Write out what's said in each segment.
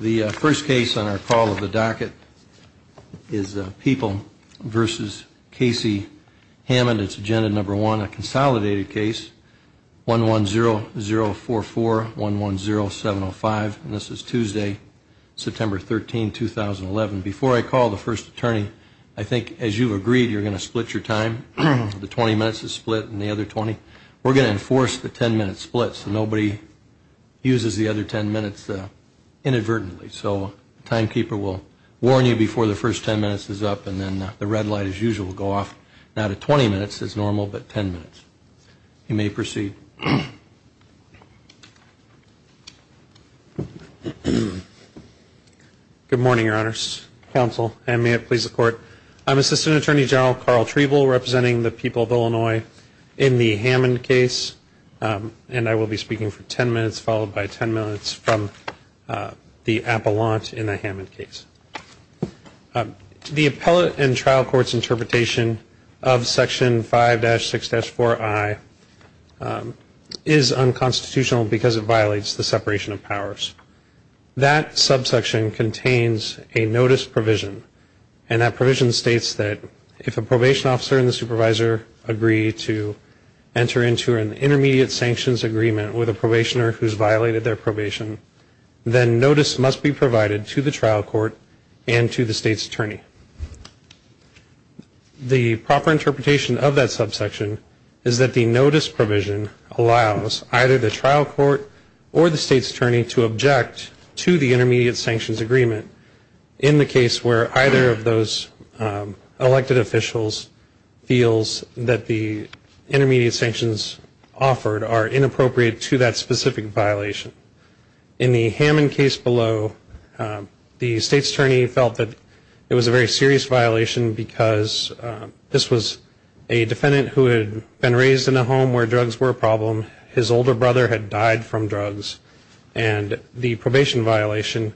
The first case on our call of the docket is People v. Casey Hammond. It's Agenda No. 1, a consolidated case, 110044110705. And this is Tuesday, September 13, 2011. Before I call the first attorney, I think, as you've agreed, you're going to split your time. The 20 minutes is split and the other 20. We're going to enforce the 10-minute split so nobody uses the other 10 minutes inadvertently. So the timekeeper will warn you before the first 10 minutes is up, and then the red light, as usual, will go off. Not at 20 minutes, as normal, but 10 minutes. You may proceed. Good morning, Your Honors, Counsel, and may it please the Court. I'm Assistant Attorney General Carl Trevel, representing the people of Illinois in the Hammond case. And I will be speaking for 10 minutes, followed by 10 minutes from the appellant in the Hammond case. The appellant in trial court's interpretation of Section 5-6-4I is unconstitutional because it violates the separation of powers. That subsection contains a notice provision. And that provision states that if a probation officer and the supervisor agree to enter into an intermediate sanctions agreement with a probationer who's violated their probation, then notice must be provided to the trial court and to the state's attorney. The proper interpretation of that subsection is that the notice provision allows either the trial court or the state's attorney to object to the intermediate sanctions agreement in the case where either of those elected officials feels that the intermediate sanctions offered are inappropriate to that specific violation. In the Hammond case below, the state's attorney felt that it was a very serious violation because this was a defendant who had been raised in a home where drugs were a problem. His older brother had died from drugs. And the probation violation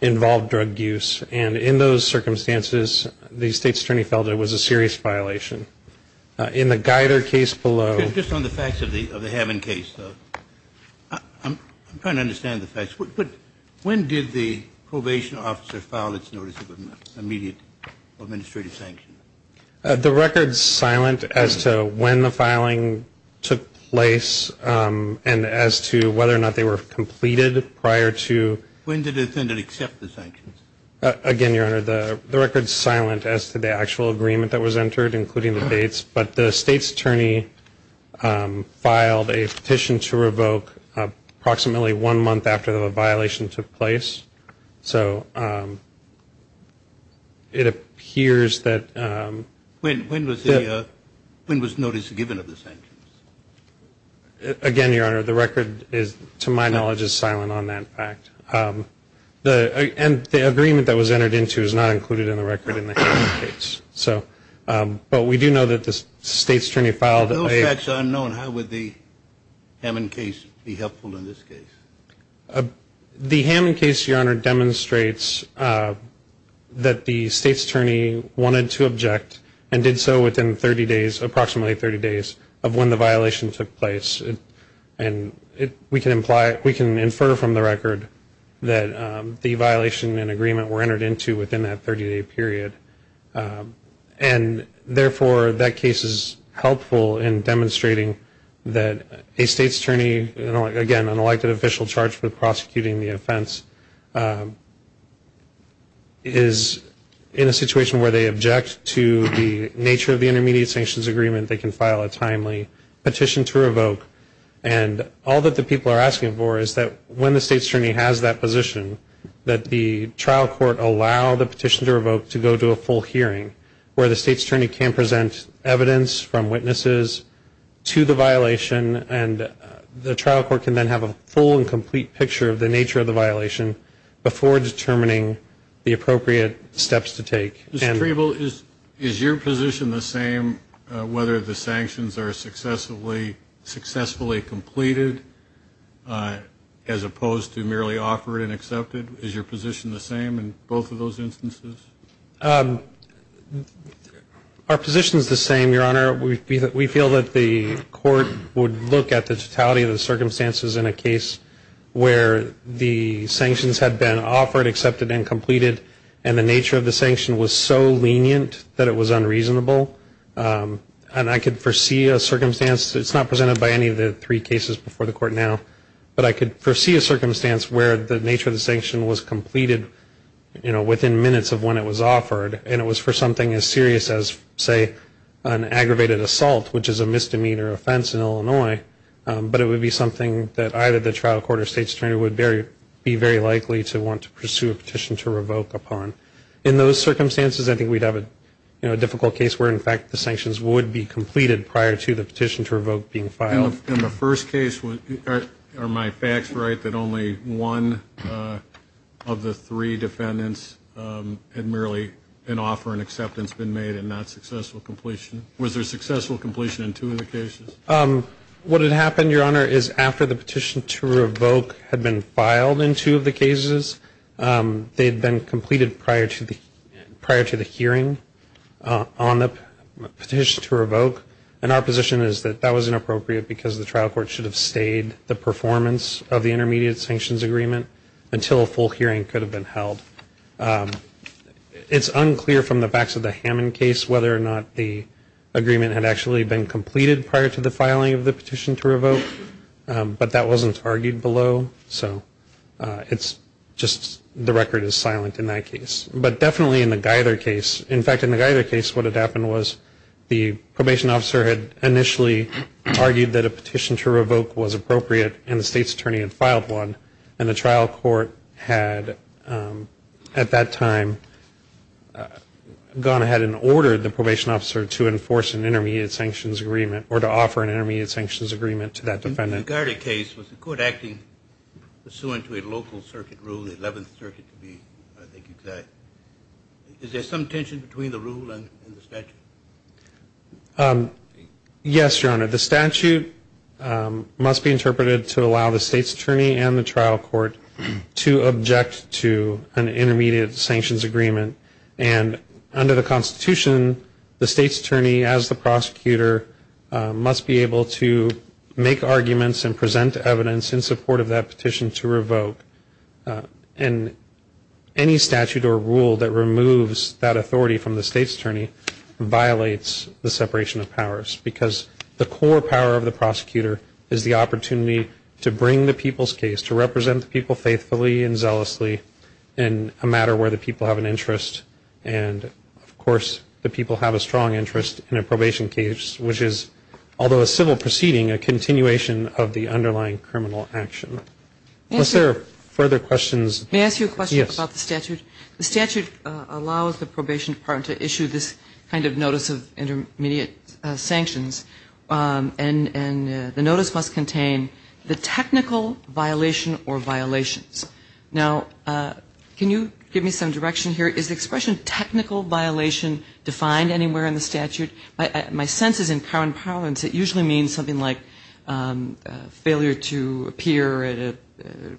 involved drug use. And in those circumstances, the state's attorney felt it was a serious violation. In the Geider case below ñ Just on the facts of the Hammond case, though. I'm trying to understand the facts. But when did the probation officer file its notice of immediate administrative sanctions? The record's silent as to when the filing took place and as to whether or not they were completed prior to ñ Again, Your Honor, the record's silent as to the actual agreement that was entered, including the dates. But the state's attorney filed a petition to revoke approximately one month after the violation took place. So it appears that ñ When was the ñ when was notice given of the sanctions? Again, Your Honor, the record is, to my knowledge, is silent on that fact. And the agreement that was entered into is not included in the record in the Hammond case. But we do know that the state's attorney filed a ñ Those facts are unknown. How would the Hammond case be helpful in this case? The Hammond case, Your Honor, demonstrates that the state's attorney wanted to object and did so within 30 days, approximately 30 days, of when the violation took place. And it ñ we can imply ñ we can infer from the record that the violation and agreement were entered into within that 30-day period. And therefore, that case is helpful in demonstrating that a state's attorney, again, an elected official charged with prosecuting the offense, is in a situation where they object to the nature of the intermediate sanctions agreement, they can file a timely petition to revoke. And all that the people are asking for is that when the state's attorney has that position, that the trial court allow the petition to revoke to go to a full hearing, where the state's attorney can present evidence from witnesses to the violation, and the trial court can then have a full and complete picture of the nature of the violation before determining the appropriate steps to take. Mr. Treble, is your position the same, whether the sanctions are successfully completed, as opposed to merely offered and accepted? Is your position the same in both of those instances? Our position is the same, Your Honor. We feel that the court would look at the totality of the circumstances in a case where the sanctions had been offered, accepted, and completed, and the nature of the sanction was so lenient that it was unreasonable. And I could foresee a circumstance, it's not presented by any of the three cases before the court now, but I could foresee a circumstance where the nature of the sanction was completed, you know, within minutes of when it was offered, and it was for something as serious as, say, an aggravated assault, which is a misdemeanor offense in Illinois, but it would be something that either the trial court or state's attorney would be very likely to want to pursue a petition to revoke upon. In those circumstances, I think we'd have a difficult case where, in fact, the sanctions would be completed prior to the petition to revoke being filed. In the first case, are my facts right, that only one of the three defendants had merely an offer and acceptance been made and not successful completion? Was there successful completion in two of the cases? What had happened, Your Honor, is after the petition to revoke had been filed in two of the cases, they had been completed prior to the hearing on the petition to revoke, and our position is that that was inappropriate because the trial court should have stayed the performance of the intermediate sanctions agreement until a full hearing could have been held. It's unclear from the facts of the Hammond case whether or not the agreement had actually been completed prior to the filing of the petition to revoke, but that wasn't argued below, so it's just the record is silent in that case. But definitely in the Geither case, in fact, in the Geither case, what had happened was the probation officer had initially argued that a petition to revoke was appropriate and the state's attorney had filed one, and the trial court had, at that time, gone ahead and ordered the probation officer to enforce an intermediate sanctions agreement or to offer an intermediate sanctions agreement to that defendant. In the Geither case, was the court acting pursuant to a local circuit rule, the 11th Circuit to be exact? Is there some tension between the rule and the statute? Yes, Your Honor. The statute must be interpreted to allow the state's attorney and the trial court to object to an intermediate sanctions agreement. And under the Constitution, the state's attorney, as the prosecutor, must be able to make arguments and present evidence in support of that petition to revoke. And any statute or rule that removes that authority from the state's attorney violates the separation of powers because the core power of the prosecutor is the opportunity to bring the people's case, to represent the people faithfully and zealously in a matter where the people have an interest. And, of course, the people have a strong interest in a probation case, which is, although a civil proceeding, a continuation of the underlying criminal action. Are there further questions? May I ask you a question about the statute? Yes. The statute allows the probation department to issue this kind of notice of intermediate sanctions, and the notice must contain the technical violation or violations. Now, can you give me some direction here? Is the expression technical violation defined anywhere in the statute? My sense is in current parlance it usually means something like failure to appear at a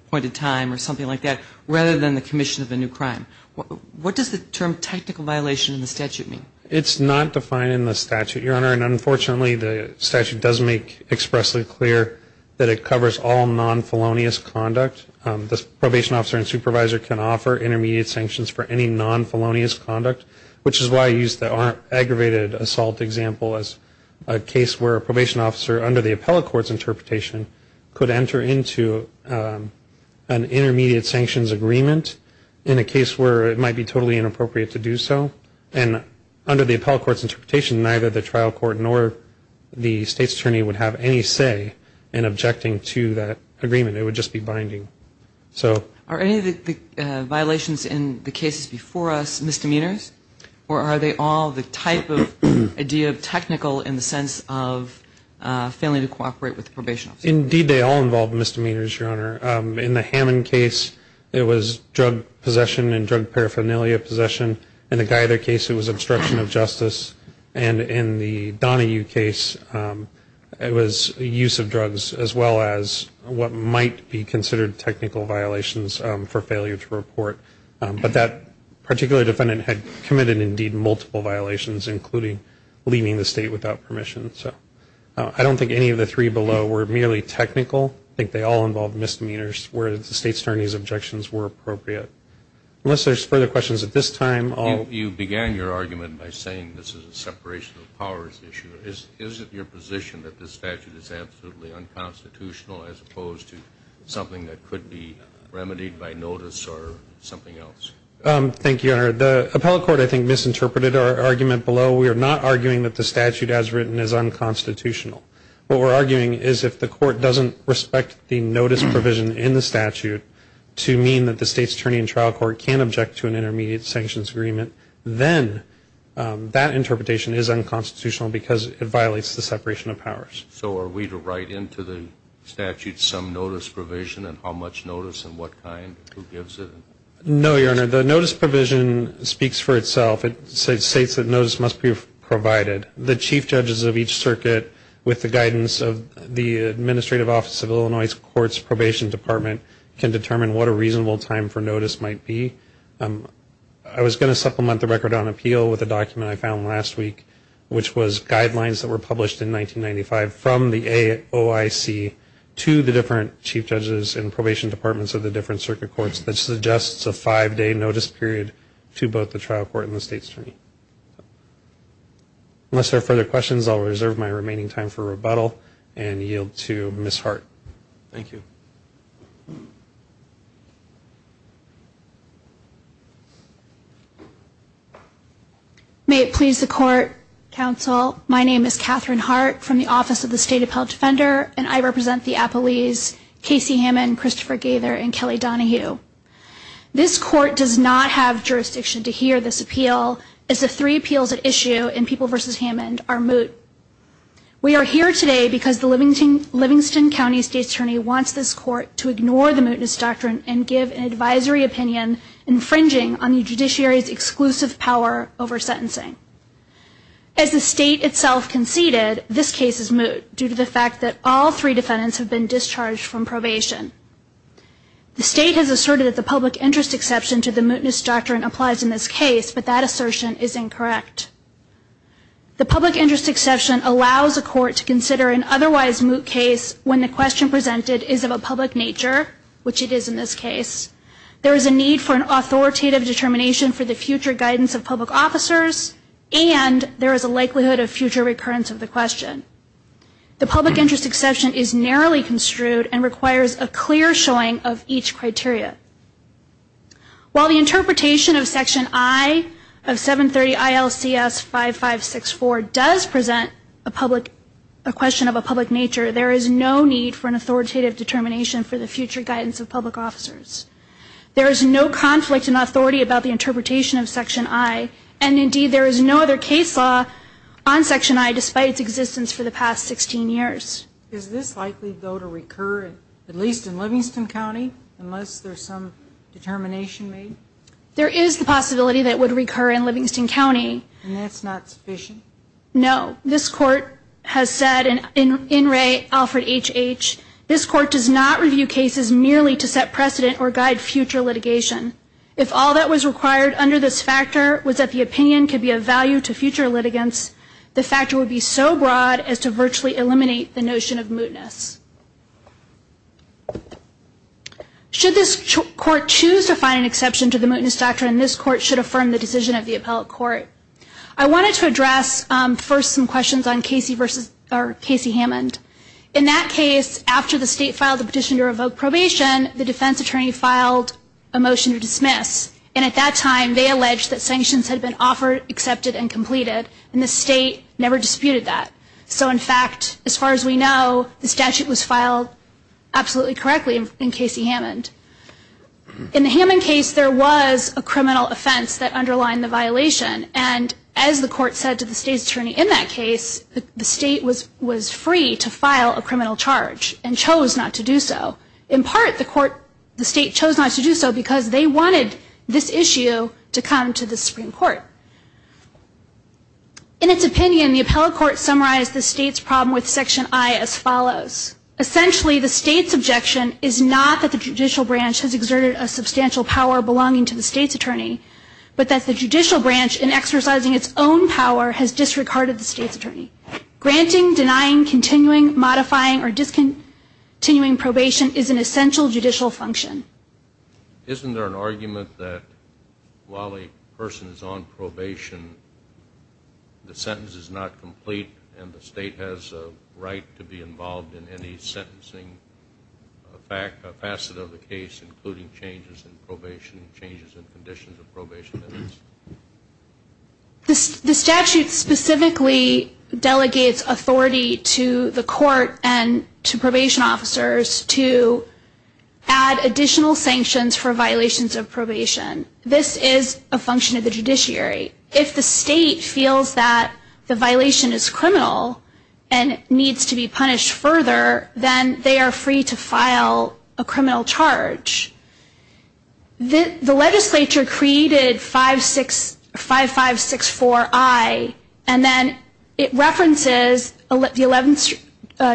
point in time or something like that, rather than the commission of a new crime. What does the term technical violation in the statute mean? It's not defined in the statute, Your Honor. And, unfortunately, the statute does make expressly clear that it covers all non-felonious conduct. The probation officer and supervisor can offer intermediate sanctions for any non-felonious conduct, which is why I used the aggravated assault example as a case where a probation officer, under the appellate court's interpretation, could enter into an intermediate sanctions agreement in a case where it might be totally inappropriate to do so. And under the appellate court's interpretation, neither the trial court nor the state's attorney would have any say in objecting to that agreement. It would just be binding. Are any of the violations in the cases before us misdemeanors, or are they all the type of idea of technical in the sense of failing to cooperate with the probation officer? Indeed, they all involve misdemeanors, Your Honor. In the Hammond case, it was drug possession and drug paraphernalia possession, in the Geither case it was obstruction of justice, and in the Donahue case it was use of drugs as well as what might be considered technical violations for failure to report. But that particular defendant had committed, indeed, multiple violations, including leaving the state without permission. So I don't think any of the three below were merely technical. I think they all involved misdemeanors where the state's attorney's objections were appropriate. Unless there's further questions at this time, I'll... You began your argument by saying this is a separation of powers issue. Is it your position that this statute is absolutely unconstitutional as opposed to something that could be remedied by notice or something else? Thank you, Your Honor. The appellate court, I think, misinterpreted our argument below. We are not arguing that the statute as written is unconstitutional. What we're arguing is if the court doesn't respect the notice provision in the statute to mean that the state's attorney in trial court can object to an intermediate sanctions agreement, then that interpretation is unconstitutional because it violates the separation of powers. So are we to write into the statute some notice provision and how much notice and what kind? Who gives it? No, Your Honor. The notice provision speaks for itself. It states that notice must be provided. The chief judges of each circuit, with the guidance of the Administrative Office of Illinois Courts Probation Department, can determine what a reasonable time for notice might be. I was going to supplement the record on appeal with a document I found last week, which was guidelines that were published in 1995 from the AOIC to the different chief judges and probation departments of the different circuit courts that suggests a five-day notice period to both the trial court and the state's attorney. Unless there are further questions, I'll reserve my remaining time for rebuttal and yield to Ms. Hart. Thank you. May it please the court, counsel, my name is Catherine Hart from the Office of the State Appellate Defender, and I represent the appellees Casey Hammond, Christopher Gaither, and Kelly Donahue. This court does not have jurisdiction to hear this appeal, as the three appeals at issue in People v. Hammond are moot. We are here today because the Livingston County State Attorney wants this court to ignore the mootness doctrine and give an advisory opinion infringing on the judiciary's exclusive power over sentencing. As the state itself conceded, this case is moot, due to the fact that all three defendants have been discharged from probation. The state has asserted that the public interest exception to the mootness doctrine applies in this case, but that assertion is incorrect. The public interest exception allows a court to consider an otherwise moot case when the question presented is of a public nature, which it is in this case. There is a need for an authoritative determination for the future guidance of public officers, and there is a likelihood of future recurrence of the question. The public interest exception is narrowly construed and requires a clear showing of each criteria. While the interpretation of Section I of 730 ILCS 5564 does present a question of a public nature, there is no need for an authoritative determination for the future guidance of public officers. There is no conflict in authority about the interpretation of Section I, and indeed there is no other case law on Section I, despite its existence for the past 16 years. Is this likely, though, to recur, at least in Livingston County, unless there's some determination made? There is the possibility that it would recur in Livingston County. And that's not sufficient? No. This Court has said, in Ray Alfred H.H., this Court does not review cases merely to set precedent or guide future litigation. If all that was required under this factor was that the opinion could be of value to future litigants, the factor would be so broad as to virtually eliminate the notion of mootness. Should this Court choose to find an exception to the mootness doctrine, this Court should affirm the decision of the appellate court. I wanted to address first some questions on Casey Hammond. In that case, after the State filed the petition to revoke probation, the defense attorney filed a motion to dismiss, and at that time they alleged that sanctions had been offered, accepted, and completed, and the State never disputed that. So, in fact, as far as we know, the statute was filed absolutely correctly in Casey Hammond. In the Hammond case, there was a criminal offense that underlined the violation, and as the Court said to the State's attorney in that case, the State was free to file a criminal charge and chose not to do so. In part, the State chose not to do so because they wanted this issue to come to the Supreme Court. In its opinion, the appellate court summarized the State's problem with Section I as follows. Essentially, the State's objection is not that the judicial branch has exerted a substantial power belonging to the State's attorney, but that the judicial branch, in exercising its own power, has disregarded the State's attorney. Granting, denying, continuing, modifying, or discontinuing probation is an essential judicial function. Isn't there an argument that while a person is on probation, the sentence is not complete and the State has a right to be involved in any sentencing facet of the case, including changes in probation, changes in conditions of probation? The statute specifically delegates authority to the Court and to probation officers to add additional sanctions for violations of probation. This is a function of the judiciary. If the State feels that the violation is criminal and needs to be punished further, then they are free to file a criminal charge. The legislature created 5564I, and then it references the Eleventh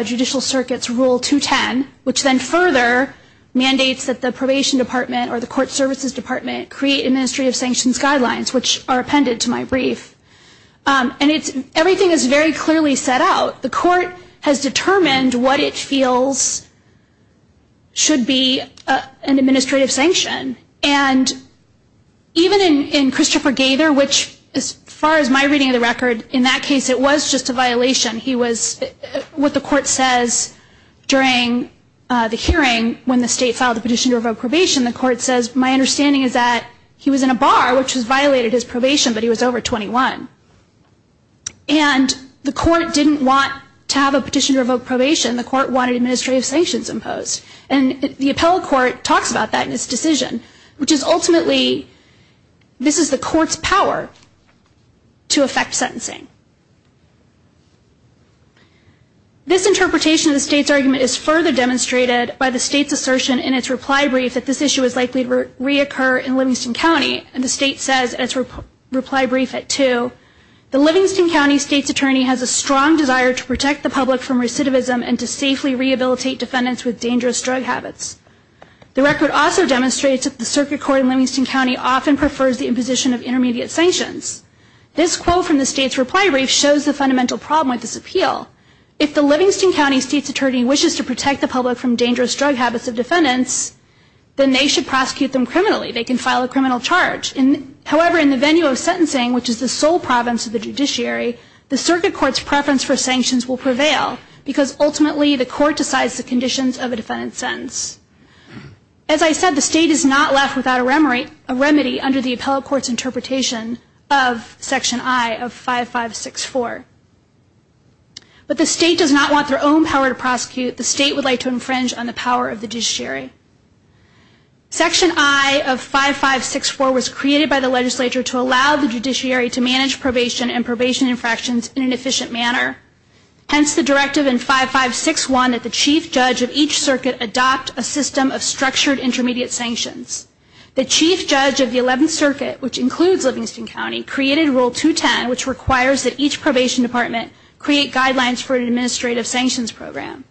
Judicial Circuit's Rule 210, which then further mandates that the Probation Department or the Court Services Department create administrative sanctions guidelines, which are appended to my brief. Everything is very clearly set out. The Court has determined what it feels should be an administrative sanction. And even in Christopher Gaither, which as far as my reading of the record, in that case it was just a violation. He was, what the Court says during the hearing when the State filed the petition to revoke probation, the Court says, my understanding is that he was in a bar, which has violated his probation, but he was over 21. And the Court didn't want to have a petition to revoke probation. The Court wanted administrative sanctions imposed. And the Appellate Court talks about that in its decision, which is ultimately this is the Court's power to affect sentencing. This interpretation of the State's argument is further demonstrated by the State's assertion in its reply brief that this issue is likely to reoccur in Livingston County. The State says in its reply brief at 2, the Livingston County State's Attorney has a strong desire to protect the public from recidivism and to safely rehabilitate defendants with dangerous drug habits. The record also demonstrates that the Circuit Court in Livingston County often prefers the imposition of intermediate sanctions. This quote from the State's reply brief shows the fundamental problem with this appeal. If the Livingston County State's Attorney wishes to protect the public from dangerous drug habits of defendants, then they should prosecute them criminally. They can file a criminal charge. However, in the venue of sentencing, which is the sole province of the judiciary, the Circuit Court's preference for sanctions will prevail because ultimately the Court decides the conditions of a defendant's sentence. As I said, the State is not left without a remedy under the Appellate Court's interpretation of Section I of 5564. But the State does not want their own power to prosecute. The State would like to infringe on the power of the judiciary. Section I of 5564 was created by the legislature to allow the judiciary to manage probation and probation infractions in an efficient manner. Hence the directive in 5561 that the Chief Judge of each circuit adopt a system of structured intermediate sanctions. The Chief Judge of the 11th Circuit, which includes Livingston County, created Rule 210, which requires that each probation department create guidelines for an administrative sanctions program.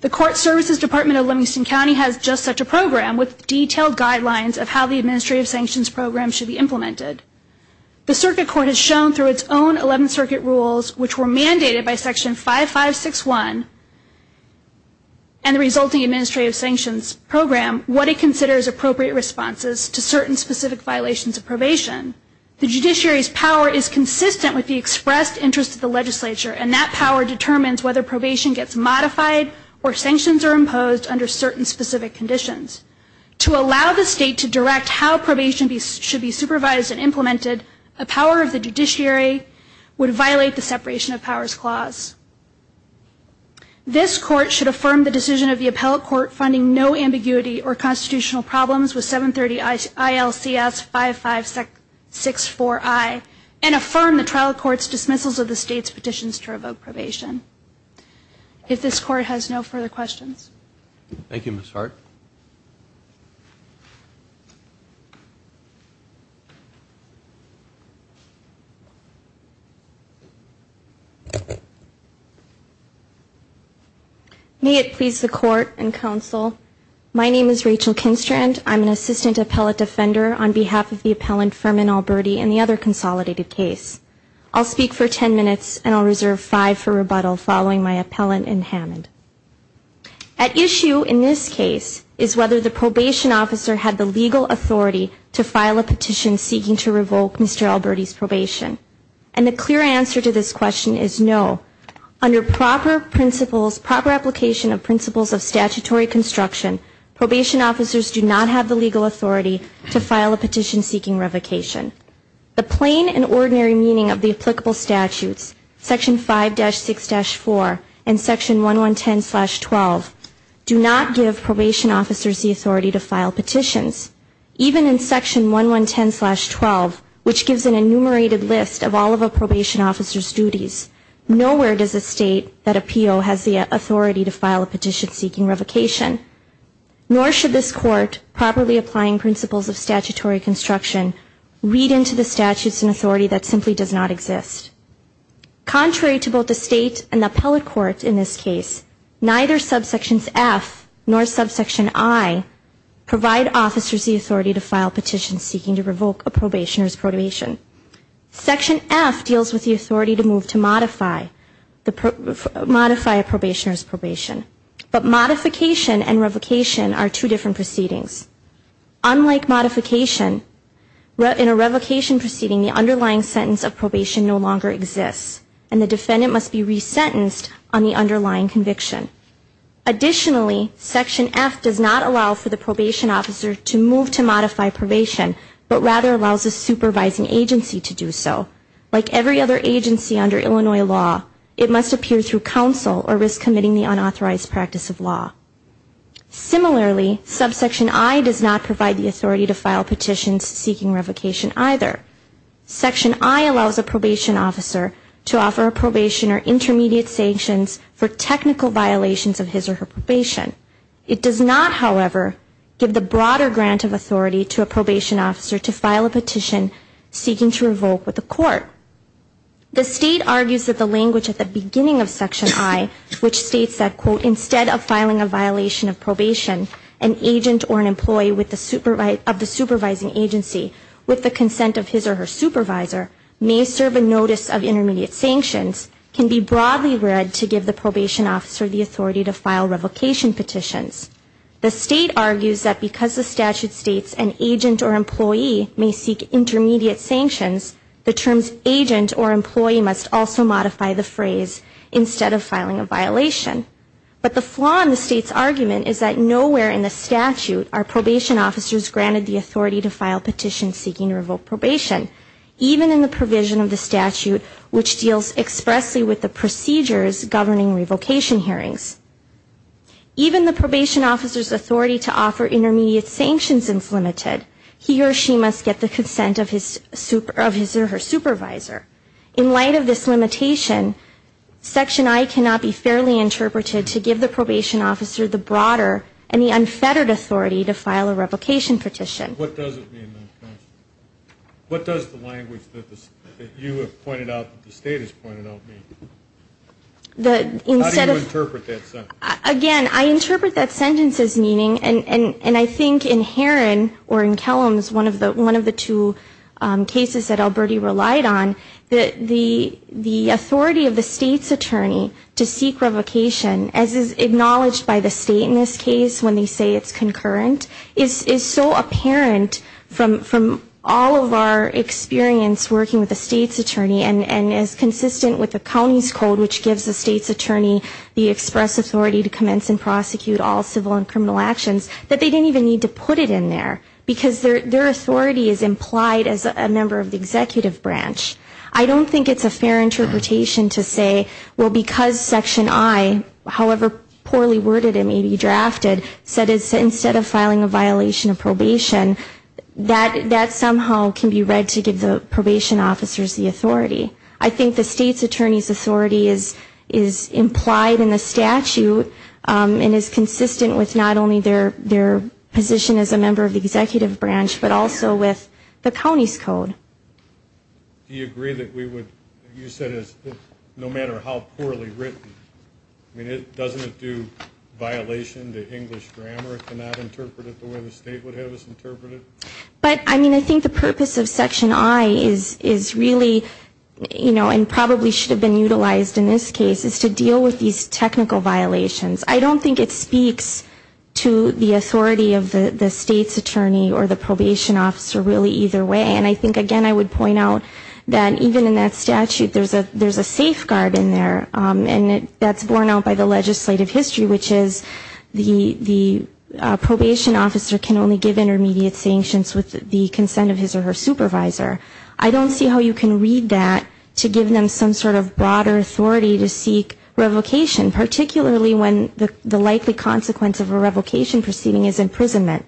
The Court Services Department of Livingston County has just such a program with detailed guidelines of how the administrative sanctions program should be implemented. The Circuit Court has shown through its own 11th Circuit rules, which were mandated by Section 5561 and the resulting administrative sanctions program, what it considers appropriate responses to certain specific violations of probation. The judiciary's power is consistent with the expressed interest of the legislature, and that power determines whether probation gets modified or sanctions are imposed under certain specific conditions. To allow the State to direct how probation should be supervised and implemented, a power of the judiciary would violate the Separation of Powers Clause. This Court should affirm the decision of the Appellate Court finding no ambiguity or constitutional problems with 730 ILCS 5564I and affirm the trial court's dismissals of the State's petitions to revoke probation. If this Court has no further questions. Thank you, Ms. Hart. May it please the Court and Counsel, my name is Rachel Kinstrand. I'm an Assistant Appellate Defender on behalf of the appellant, and the other consolidated case. I'll speak for 10 minutes and I'll reserve five for rebuttal following my appellant in Hammond. At issue in this case is whether the probation officer had the legal authority to file a petition seeking to revoke Mr. Alberti's probation. And the clear answer to this question is no. Under proper principles, proper application of principles of statutory construction, probation officers do not have the legal authority to file a petition seeking revocation. The plain and ordinary meaning of the applicable statutes, Section 5-6-4 and Section 1110-12, do not give probation officers the authority to file petitions. Even in Section 1110-12, which gives an enumerated list of all of a probation officer's duties, nowhere does a State that appeal has the authority to file a petition seeking revocation. Nor should this Court, properly applying principles of statutory construction, read into the statutes an authority that simply does not exist. Contrary to both the State and the appellate court in this case, neither subsections F nor subsection I provide officers the authority to file petitions seeking to revoke a probationer's probation. Section F deals with the authority to move to modify a probationer's probation. But modification and revocation are two different proceedings. Unlike modification, in a revocation proceeding, the underlying sentence of probation no longer exists, and the defendant must be resentenced on the underlying conviction. Additionally, Section F does not allow for the probation officer to move to modify probation, but rather allows a supervising agency to do so. Like every other agency under Illinois law, it must appear through counsel or risk committing the unauthorized practice of law. Similarly, subsection I does not provide the authority to file petitions seeking revocation either. Section I allows a probation officer to offer a probationer intermediate sanctions for technical violations of his or her probation. It does not, however, give the broader grant of authority to a probation officer to file a petition seeking to revoke with the court. The State argues that the language at the beginning of section I, which states that, quote, instead of filing a violation of probation, an agent or an employee of the supervising agency, with the consent of his or her supervisor, may serve a notice of intermediate sanctions, can be broadly read to give the probation officer the authority to file revocation petitions. The State argues that because the statute states an agent or employee may seek intermediate sanctions, the terms agent or employee must also modify the phrase, instead of filing a violation. But the flaw in the State's argument is that nowhere in the statute are probation officers granted the authority to file petitions seeking to revoke probation, even in the provision of the statute, which deals expressly with the procedures governing revocation hearings. Even the probation officer's authority to offer intermediate sanctions is limited. He or she must get the consent of his or her supervisor. In light of this limitation, section I cannot be fairly interpreted to give the probation officer the broader and the unfettered authority to file a revocation petition. What does it mean? What does the language that you have pointed out that the State has pointed out mean? How do you interpret that sentence? Again, I interpret that sentence as meaning, and I think in Heron or in Kellams, one of the two cases that Alberti relied on, that the authority of the State's attorney to seek revocation, as is acknowledged by the State in this case when they say it's concurrent, is so apparent from all of our experience working with the State's attorney and is consistent with the county's code, which gives the State's attorney the express authority to commence and prosecute all civil and criminal actions, that they didn't even need to put it in there, because their authority is implied as a member of the executive branch. I don't think it's a fair interpretation to say, well, because section I, however poorly worded it may be drafted, said instead of filing a violation of probation, that somehow can be read to give the probation officers the authority. I think the State's attorney's authority is implied in the statute and is consistent with not only their position as a member of the executive branch, but also with the county's code. Do you agree that we would use that as, no matter how poorly written, I mean, doesn't it do violation to English grammar to not interpret it the way the State would have us interpret it? But, I mean, I think the purpose of section I is really, you know, and probably should have been utilized in this case, is to deal with these technical violations. I don't think it speaks to the authority of the State's attorney or the probation officer really either way, and I think, again, I would point out that even in that statute there's a safeguard in there, and that's borne out by the legislative history, which is the probation officer can only give intermediate sanctions with the consent of his or her supervisor. I don't see how you can read that to give them some sort of broader authority to seek revocation, particularly when the likely consequence of a revocation proceeding is imprisonment.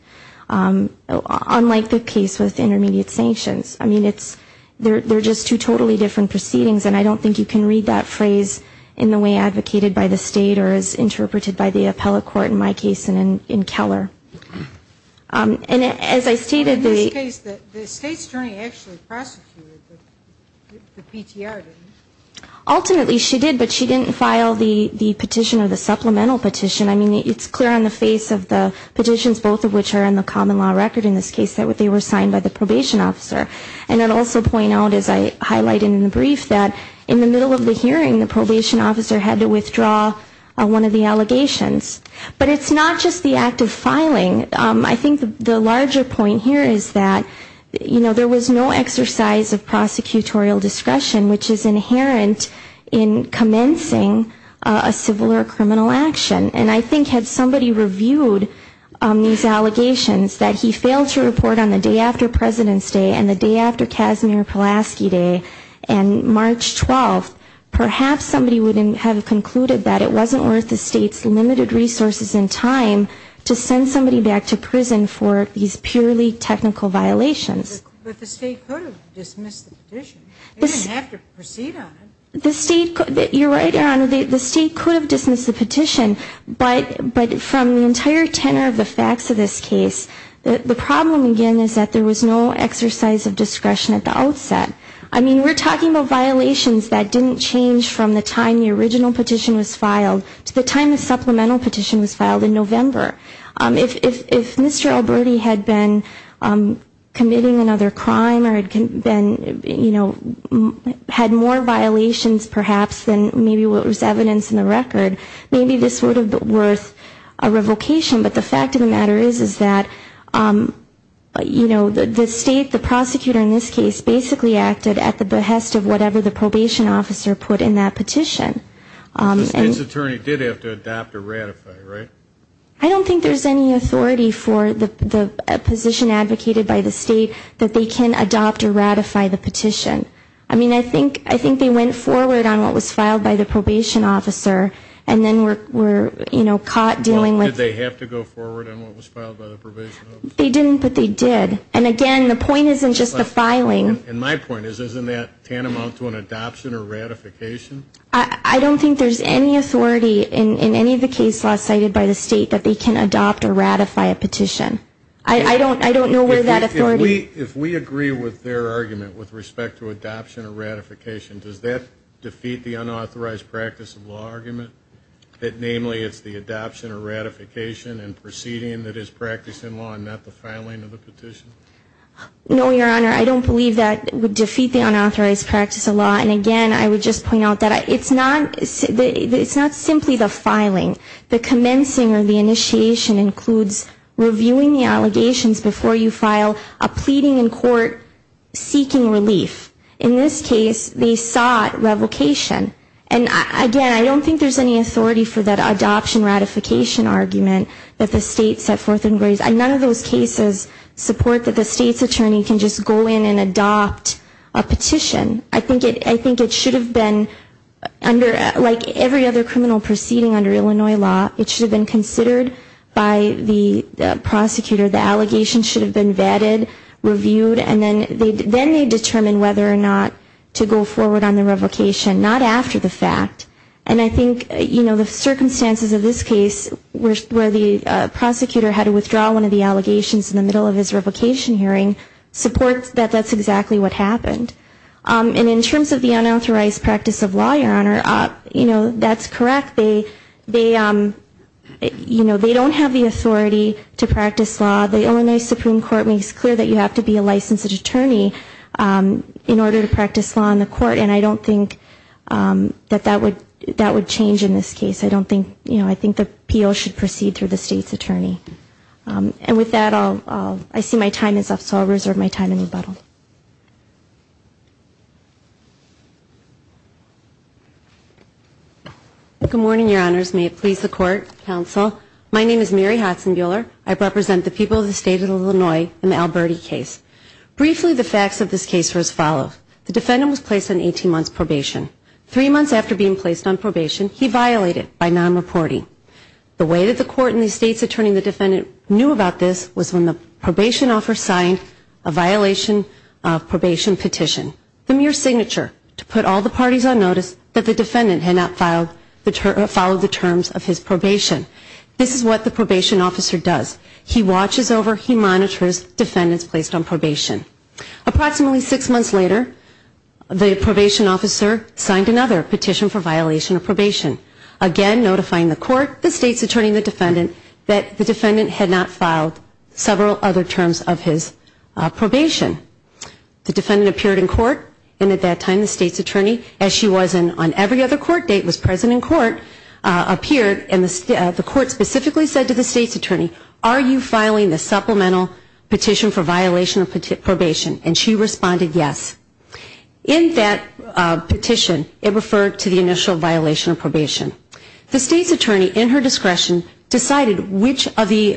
Unlike the case with intermediate sanctions, I mean, it's, they're just two totally different proceedings, and I don't think you can read that phrase in the way advocated by the State or as interpreted by the appellate court in my case and in Keller. And as I stated, the... Ultimately, she did, but she didn't file the petition or the supplemental petition. I mean, it's clear on the face of the petitions, both of which are in the common law record in this case, that they were signed by the probation officer. And I'd also point out, as I highlighted in the brief, that in the middle of the hearing, the probation officer had to withdraw one of the allegations. But it's not just the act of filing. I think the larger point here is that, you know, there was no exercise of prosecutorial discretion, which is inherent in commencing a civil or criminal action. And I think had somebody reviewed these allegations, that he failed to report on the day after President's Day and the day after Kasimir Pulaski Day and March 12th, perhaps somebody would have concluded that it wasn't worth the State's limited resources and time to send somebody back to prison for these purely technical violations. But the State could have dismissed the petition. They didn't have to proceed on it. You're right, Your Honor, the State could have dismissed the petition. But from the entire tenor of the facts of this case, the problem, again, is that there was no exercise of discretion at the outset. I mean, we're talking about violations that didn't change from the time the original petition was filed to the time the supplemental petition was filed in November. If Mr. Alberti had been committing another crime or had been, you know, had more violations than the original petition, that would have been the case. If there were more violations, perhaps, than maybe what was evidenced in the record, maybe this would have been worth a revocation. But the fact of the matter is, is that, you know, the State, the prosecutor in this case, basically acted at the behest of whatever the probation officer put in that petition. The State's attorney did have to adopt or ratify, right? I don't think there's any authority for the position advocated by the State that they can adopt or ratify the petition. I mean, I think they went forward on what was filed by the probation officer and then were, you know, caught dealing with... Well, did they have to go forward on what was filed by the probation officer? They didn't, but they did. And again, the point isn't just the filing. And my point is, isn't that tantamount to an adoption or ratification? I don't think there's any authority in any of the cases cited by the State that they can adopt or ratify a petition. I don't know where that authority... If we agree with their argument with respect to adoption or ratification, does that defeat the unauthorized practice of law argument? That, namely, it's the adoption or ratification and proceeding that is practiced in law and not the filing of the petition? No, Your Honor, I don't believe that would defeat the unauthorized practice of law. And again, I would just point out that it's not simply the filing. The commencing or the initiation includes reviewing the allegations before you file a pleading in court seeking relief. In this case, they sought revocation. And again, I don't think there's any authority for that adoption ratification argument that the State set forth and raised. None of those cases support that the State's attorney can just go in and adopt a petition. I think it should have been, like every other criminal proceeding under Illinois law, it should have been considered by the prosecutor. The allegations should have been vetted, reviewed, and then they determine whether or not to go forward on the revocation. Not after the fact. And I think, you know, the circumstances of this case where the prosecutor had to withdraw one of the allegations in the middle of his revocation hearing supports that that's exactly what happened. And in terms of the unauthorized practice of law, Your Honor, you know, that's correct. They, you know, they don't have the authority to practice law. The Illinois Supreme Court makes clear that you have to be a licensed attorney in order to practice law in the court. And I don't think that that would change in this case. I don't think, you know, I think the PO should proceed through the State's attorney. And with that, I'll, I see my time is up, so I'll reserve my time and rebuttal. Good morning, Your Honors. May it please the Court, Counsel. My name is Mary Hodson Buehler. I represent the people of the State of Illinois in the Alberti case. Briefly, the facts of this case were as follows. The defendant was placed on 18 months probation. Three months after being placed on probation, he violated by non-reporting. The way that the court and the State's attorney, the defendant, knew about this was when the probation officer signed a violation of probation petition. The mere signature to put all the parties on notice that the defendant had not followed the terms of his probation. This is what the probation officer does. He watches over, he monitors defendants placed on probation. Approximately six months later, the probation officer signed another petition for violation of probation. Again, notifying the court, the State's attorney, and the defendant that the defendant had not filed several other terms of his probation. The defendant appeared in court, and at that time the State's attorney, as she was on every other court date, was present in court, appeared and the court specifically said to the State's attorney, are you filing the supplemental petition for violation of probation? And she responded yes. In that petition, it referred to the initial violation of probation. The State's attorney, in her discretion, decided which of the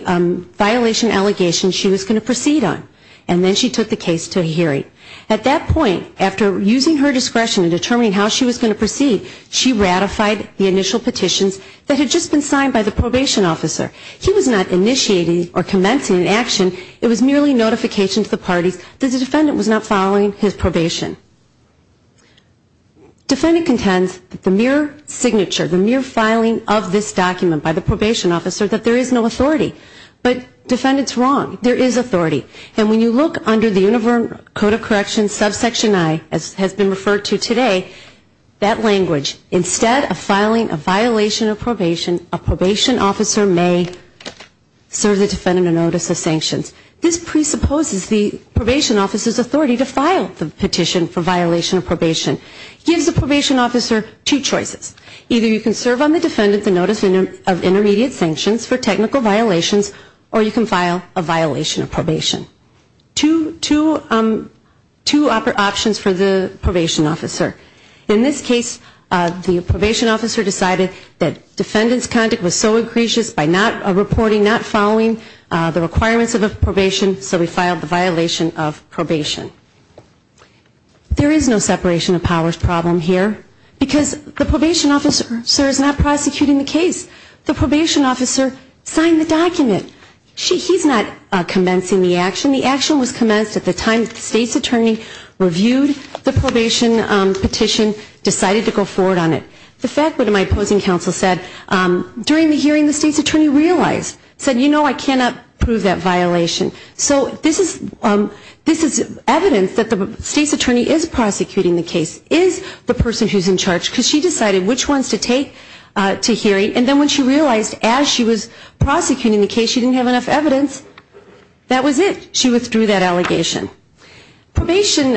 violation allegations she was going to proceed on. And then she took the case to hearing. At that point, after using her discretion in determining how she was going to proceed, she ratified the initial petitions that had just been signed by the probation officer. He was not initiating or commencing an action. It was merely notification to the parties that the defendant was not following his probation. Defendant contends that the mere signature, the mere filing of this document by the probation officer, that there is no authority. But defendant's wrong. There is authority. And when you look under the Universal Code of Corrections, subsection I, as has been referred to today, that language, instead of filing a violation of probation, a probation officer may serve the defendant in notice of sanctions. This presupposes the probation officer's authority to file the petition for violation of probation. Gives the probation officer two choices. Either you can serve on the defendant's notice of intermediate sanctions for technical violations, or you can file a violation of probation. Two options for the probation officer. In this case, the probation officer decided that defendant's conduct was so egregious by not reporting, by not following the requirements of a probation, so he filed the violation of probation. There is no separation of powers problem here, because the probation officer is not prosecuting the case. The probation officer signed the document. He's not commencing the action. The action was commenced at the time that the state's attorney reviewed the probation petition, decided to go forward on it. The fact that my opposing counsel said, during the hearing, the state's attorney realized, said, you know, I cannot prove that violation. So this is evidence that the state's attorney is prosecuting the case, is the person who's in charge, because she decided which ones to take to hearing. And then when she realized, as she was prosecuting the case, she didn't have enough evidence, that was it. She withdrew that allegation. Probation,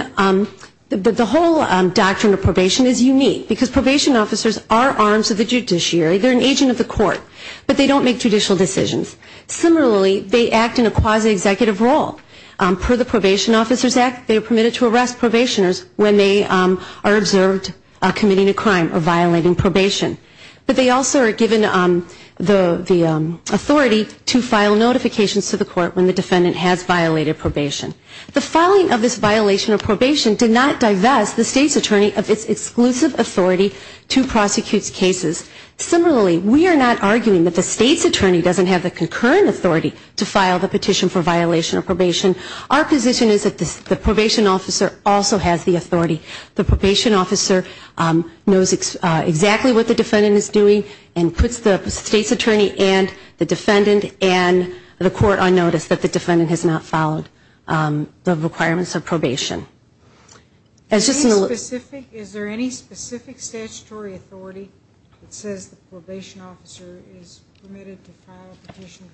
the whole doctrine of probation is unique, because probation officers are arms of the judiciary. They're an agent of the court, but they don't make judicial decisions. Similarly, they act in a quasi-executive role. Per the Probation Officers Act, they are permitted to arrest probationers when they are observed committing a crime or violating probation. But they also are given the authority to file notifications to the court when the defendant has violated probation. The filing of this violation of probation did not divest the state's attorney of its exclusive authority to prosecute cases. Similarly, we are not arguing that the state's attorney doesn't have the concurrent authority to file the petition for violation of probation. Our position is that the probation officer also has the authority. The probation officer knows exactly what the defendant is doing and puts the state's attorney and the defendant and the court on notice that the defendant has not followed. The requirements of probation. Is there any specific statutory authority that says the probation officer is permitted to file a petition?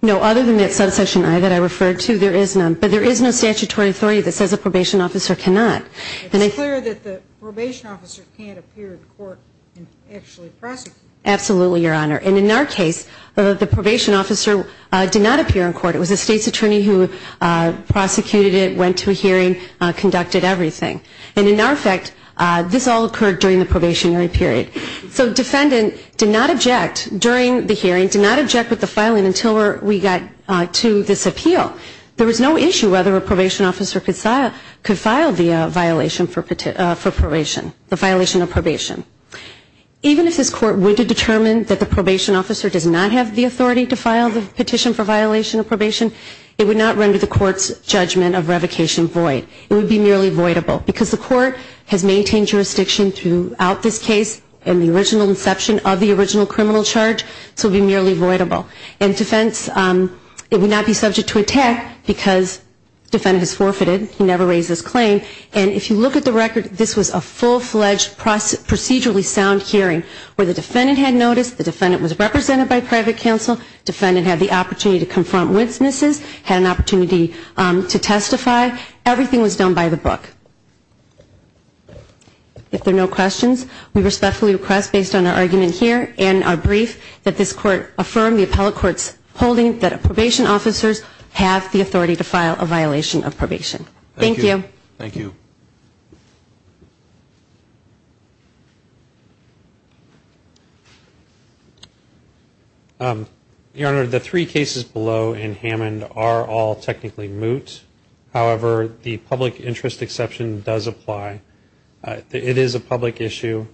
No, other than that subsection I that I referred to, there is none. But there is no statutory authority that says a probation officer cannot. It's clear that the probation officer can't appear in court and actually prosecute. Absolutely, Your Honor. And in our case, the probation officer did not appear in court. It was the state's attorney who prosecuted it, went to a hearing, conducted everything. And in our effect, this all occurred during the probationary period. So defendant did not object during the hearing, did not object with the filing until we got to this appeal. There was no issue whether a probation officer could file the violation for probation, the violation of probation. Even if this court were to determine that the probation officer does not have the authority to file the petition for violation of probation, it would not render the court's judgment of revocation void. It would be merely voidable because the court has maintained jurisdiction throughout this case and the original inception of the original criminal charge. So it would be merely voidable. And defense, it would not be subject to attack because defendant has forfeited, he never raised his claim. And if you look at the record, this was a full-fledged procedurally sound hearing where the defendant had notice, the defendant was represented by private counsel, defendant had the opportunity to confront witnesses, had an opportunity to testify. Everything was done by the book. If there are no questions, we respectfully request based on our argument here and our brief that this court affirm the appellate court's holding that probation officers have the authority to file a violation of probation. Thank you. Thank you. Your Honor, the three cases below in Hammond are all technically moot. However, the public interest exception does apply. It is a public issue.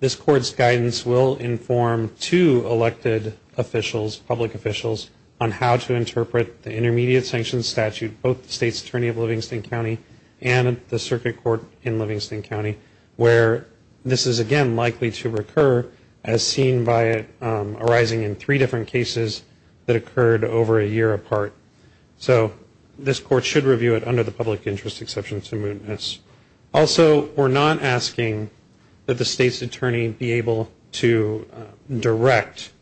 This court's guidance will inform two elected officials, public officials, on how to interpret the intermediate sanctions statute, both the state's attorney of Livingston County and the circuit court in Livingston County where this is, again, likely to recur as seen by it arising in three different cases that occurred over a year apart. So this court should review it under the public interest exception to mootness. Also, we're not asking that the state's attorney be able to direct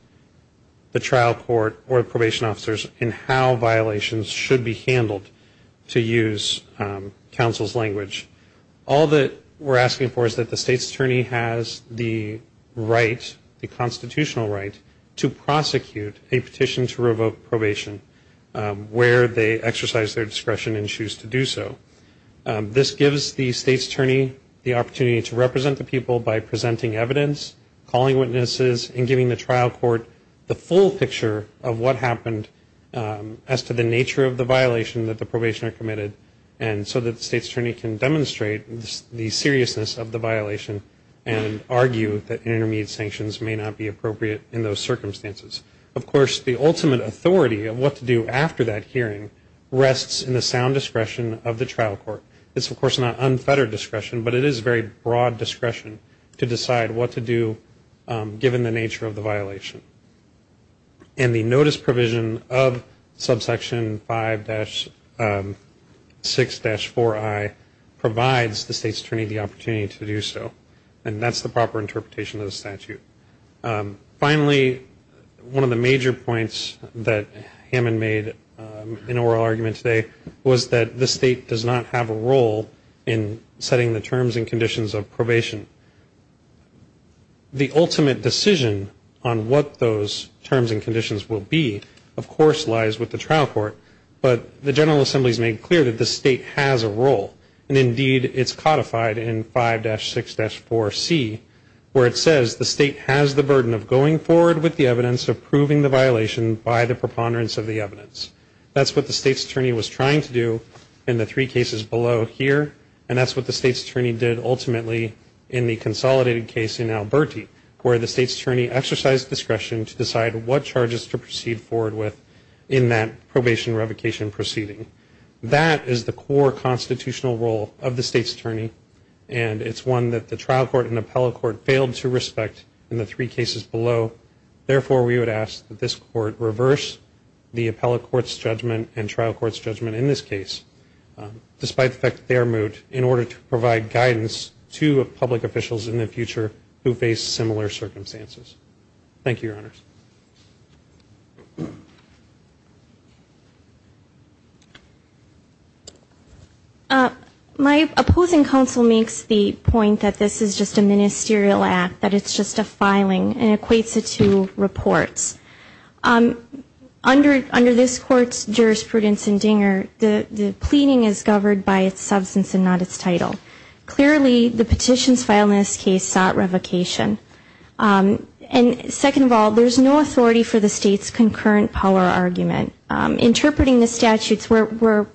the trial court or the probation officers in how violations should be handled to use counsel's language. All that we're asking for is that the state's attorney has the right, the constitutional right, to prosecute a petition to revoke probation. Where they exercise their discretion and choose to do so. This gives the state's attorney the opportunity to represent the people by presenting evidence, calling witnesses, and giving the trial court the full picture of what happened as to the nature of the violation that the probationer committed. And so that the state's attorney can demonstrate the seriousness of the violation and argue that intermediate sanctions may not be appropriate in those circumstances. Of course, the ultimate authority of what to do after that hearing rests in the sound discretion of the trial court. It's, of course, not unfettered discretion, but it is very broad discretion to decide what to do given the nature of the violation. And the notice provision of subsection 5-6-4I provides the state's attorney the opportunity to do so. And that's the proper interpretation of the statute. Finally, one of the major points that Hammond made in oral argument today was that the state does not have a role in setting the terms and conditions of probation. The ultimate decision on what those terms and conditions will be, of course, lies with the trial court. But the General Assembly has made clear that the state has a role. And indeed, it's codified in 5-6-4C where it says the state has the burden of going forward with the evidence of proving the violation by the preponderance of the evidence. That's what the state's attorney was trying to do in the three cases below here, and that's what the state's attorney did ultimately in the conviction revocation proceeding. That is the core constitutional role of the state's attorney, and it's one that the trial court and appellate court failed to respect in the three cases below. Therefore, we would ask that this court reverse the appellate court's judgment and trial court's judgment in this case, despite the fact that they are the only court in the United States that has the authority to provide guidance to public officials in the future who face similar circumstances. Thank you, Your Honors. My opposing counsel makes the point that this is just a ministerial act, that it's just a filing, and equates it to reports. Under this court's jurisprudence in Dinger, the pleading is governed by its substance and not its title. Clearly, the petitions filed in this case sought revocation. And second of all, there's no authority for the state's concurrent power argument. Interpreting the statutes where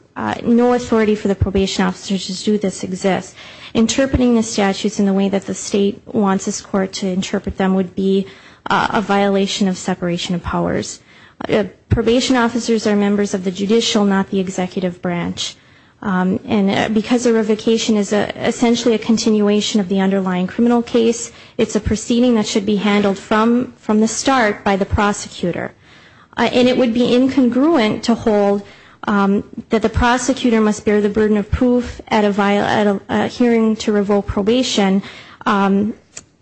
no authority for the probation officers to do this exists, interpreting the statutes in the way that the state wants this court to interpret them would be a violation of separation of powers. Probation officers are members of the judicial, not the executive branch. And because a revocation is essentially a continuation of the underlying criminal case, it's a proceeding that should be handled from the start by the prosecutor. And it would be incongruent to hold that the prosecutor must bear the burden of proof at a hearing to revoke probation. And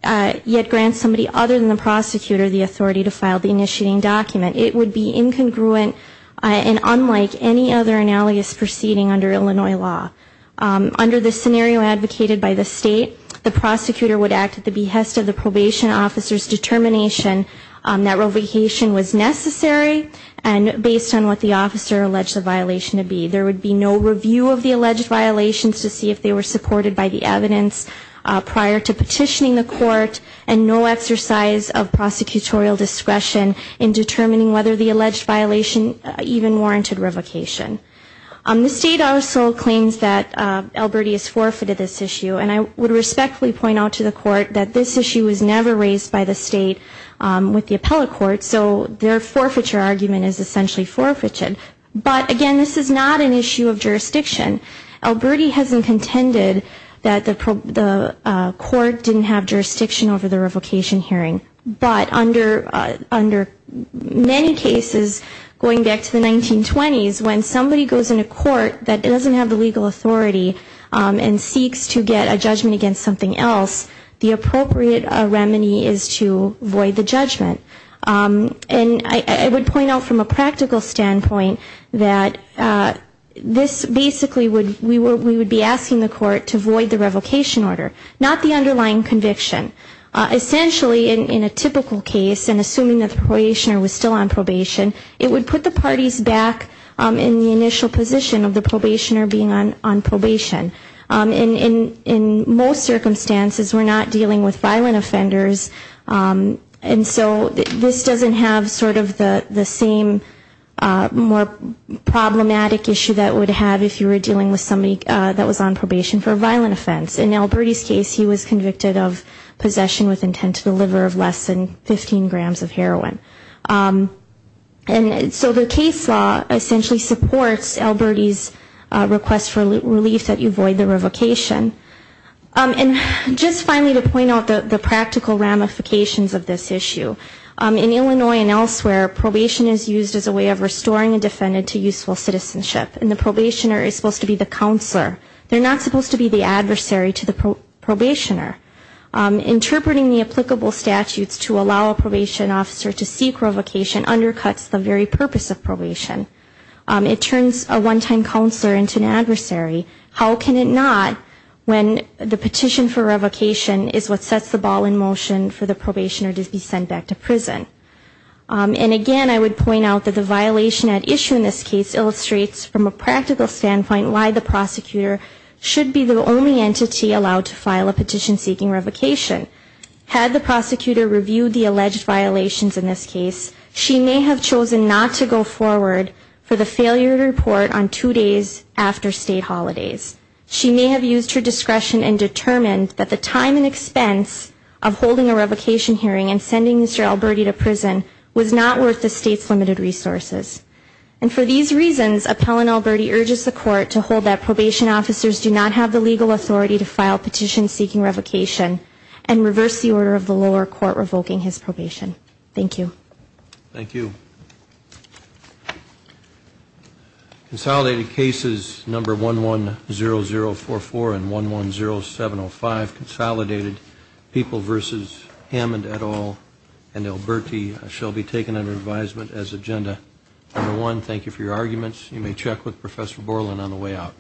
yet grant somebody other than the prosecutor the authority to file the initiating document. It would be incongruent and unlike any other analogous proceeding under Illinois law. Under the scenario advocated by the state, the prosecutor would act at the behest of the probation officer's determination that revocation was necessary, and based on what the officer alleged the violation to be. There would be no review of the alleged violations to see if they were supported by the evidence prior to petitioning the court, and no exercise of prosecutorial discretion in determining whether the alleged violation even warranted revocation. The state also claims that Elberti has forfeited this issue, and I would respectfully point out to the court that this issue was never raised by the state with the appellate court, so their forfeiture argument is essentially forfeited. But again, this is not an issue of jurisdiction. Elberti hasn't contended that the court didn't have jurisdiction over the revocation hearing. But under many cases, going back to the 1920s, when somebody goes into court that doesn't have the legal authority and seeks to get a judgment against something else, the appropriate remedy is to void the judgment. And I would point out from a practical standpoint that this basically would, we would be asking the court to void the revocation order, not the underlying conviction. Essentially, in a typical case, and assuming that the probationer was still on probation, it would put the parties back in the initial position of the probationer being on probation. And in most circumstances, we're not dealing with violent offenders, and so we would void the revocation order. So this doesn't have sort of the same more problematic issue that it would have if you were dealing with somebody that was on probation for a violent offense. In Elberti's case, he was convicted of possession with intent to deliver of less than 15 grams of heroin. And so the case law essentially supports Elberti's request for relief that you void the revocation. In Illinois and elsewhere, probation is used as a way of restoring a defendant to useful citizenship, and the probationer is supposed to be the counselor. They're not supposed to be the adversary to the probationer. Interpreting the applicable statutes to allow a probation officer to seek revocation undercuts the very purpose of probation. It turns a one-time counselor into an adversary. How can it not when the petition for revocation has been reviewed by the prosecutor? And again, I would point out that the violation at issue in this case illustrates from a practical standpoint why the prosecutor should be the only entity allowed to file a petition seeking revocation. Had the prosecutor reviewed the alleged violations in this case, she may have chosen not to go forward for the failure to report on two days after state holidays. She may have used her discretion and determined that the time and expense of holding a revocation hearing and sending Mr. Elberti to prison was not worth the state's limited resources. And for these reasons, Appellant Elberti urges the court to hold that probation officers do not have the legal authority to file petitions seeking revocation and reverse the order of the lower court revoking his probation. Thank you. Thank you. Consolidated cases number 110044 and 110705, consolidated people versus Hammond, et al., and Elberti shall be taken under advisement as agenda number one. Thank you for your arguments. You may check with Professor Borland on the way out.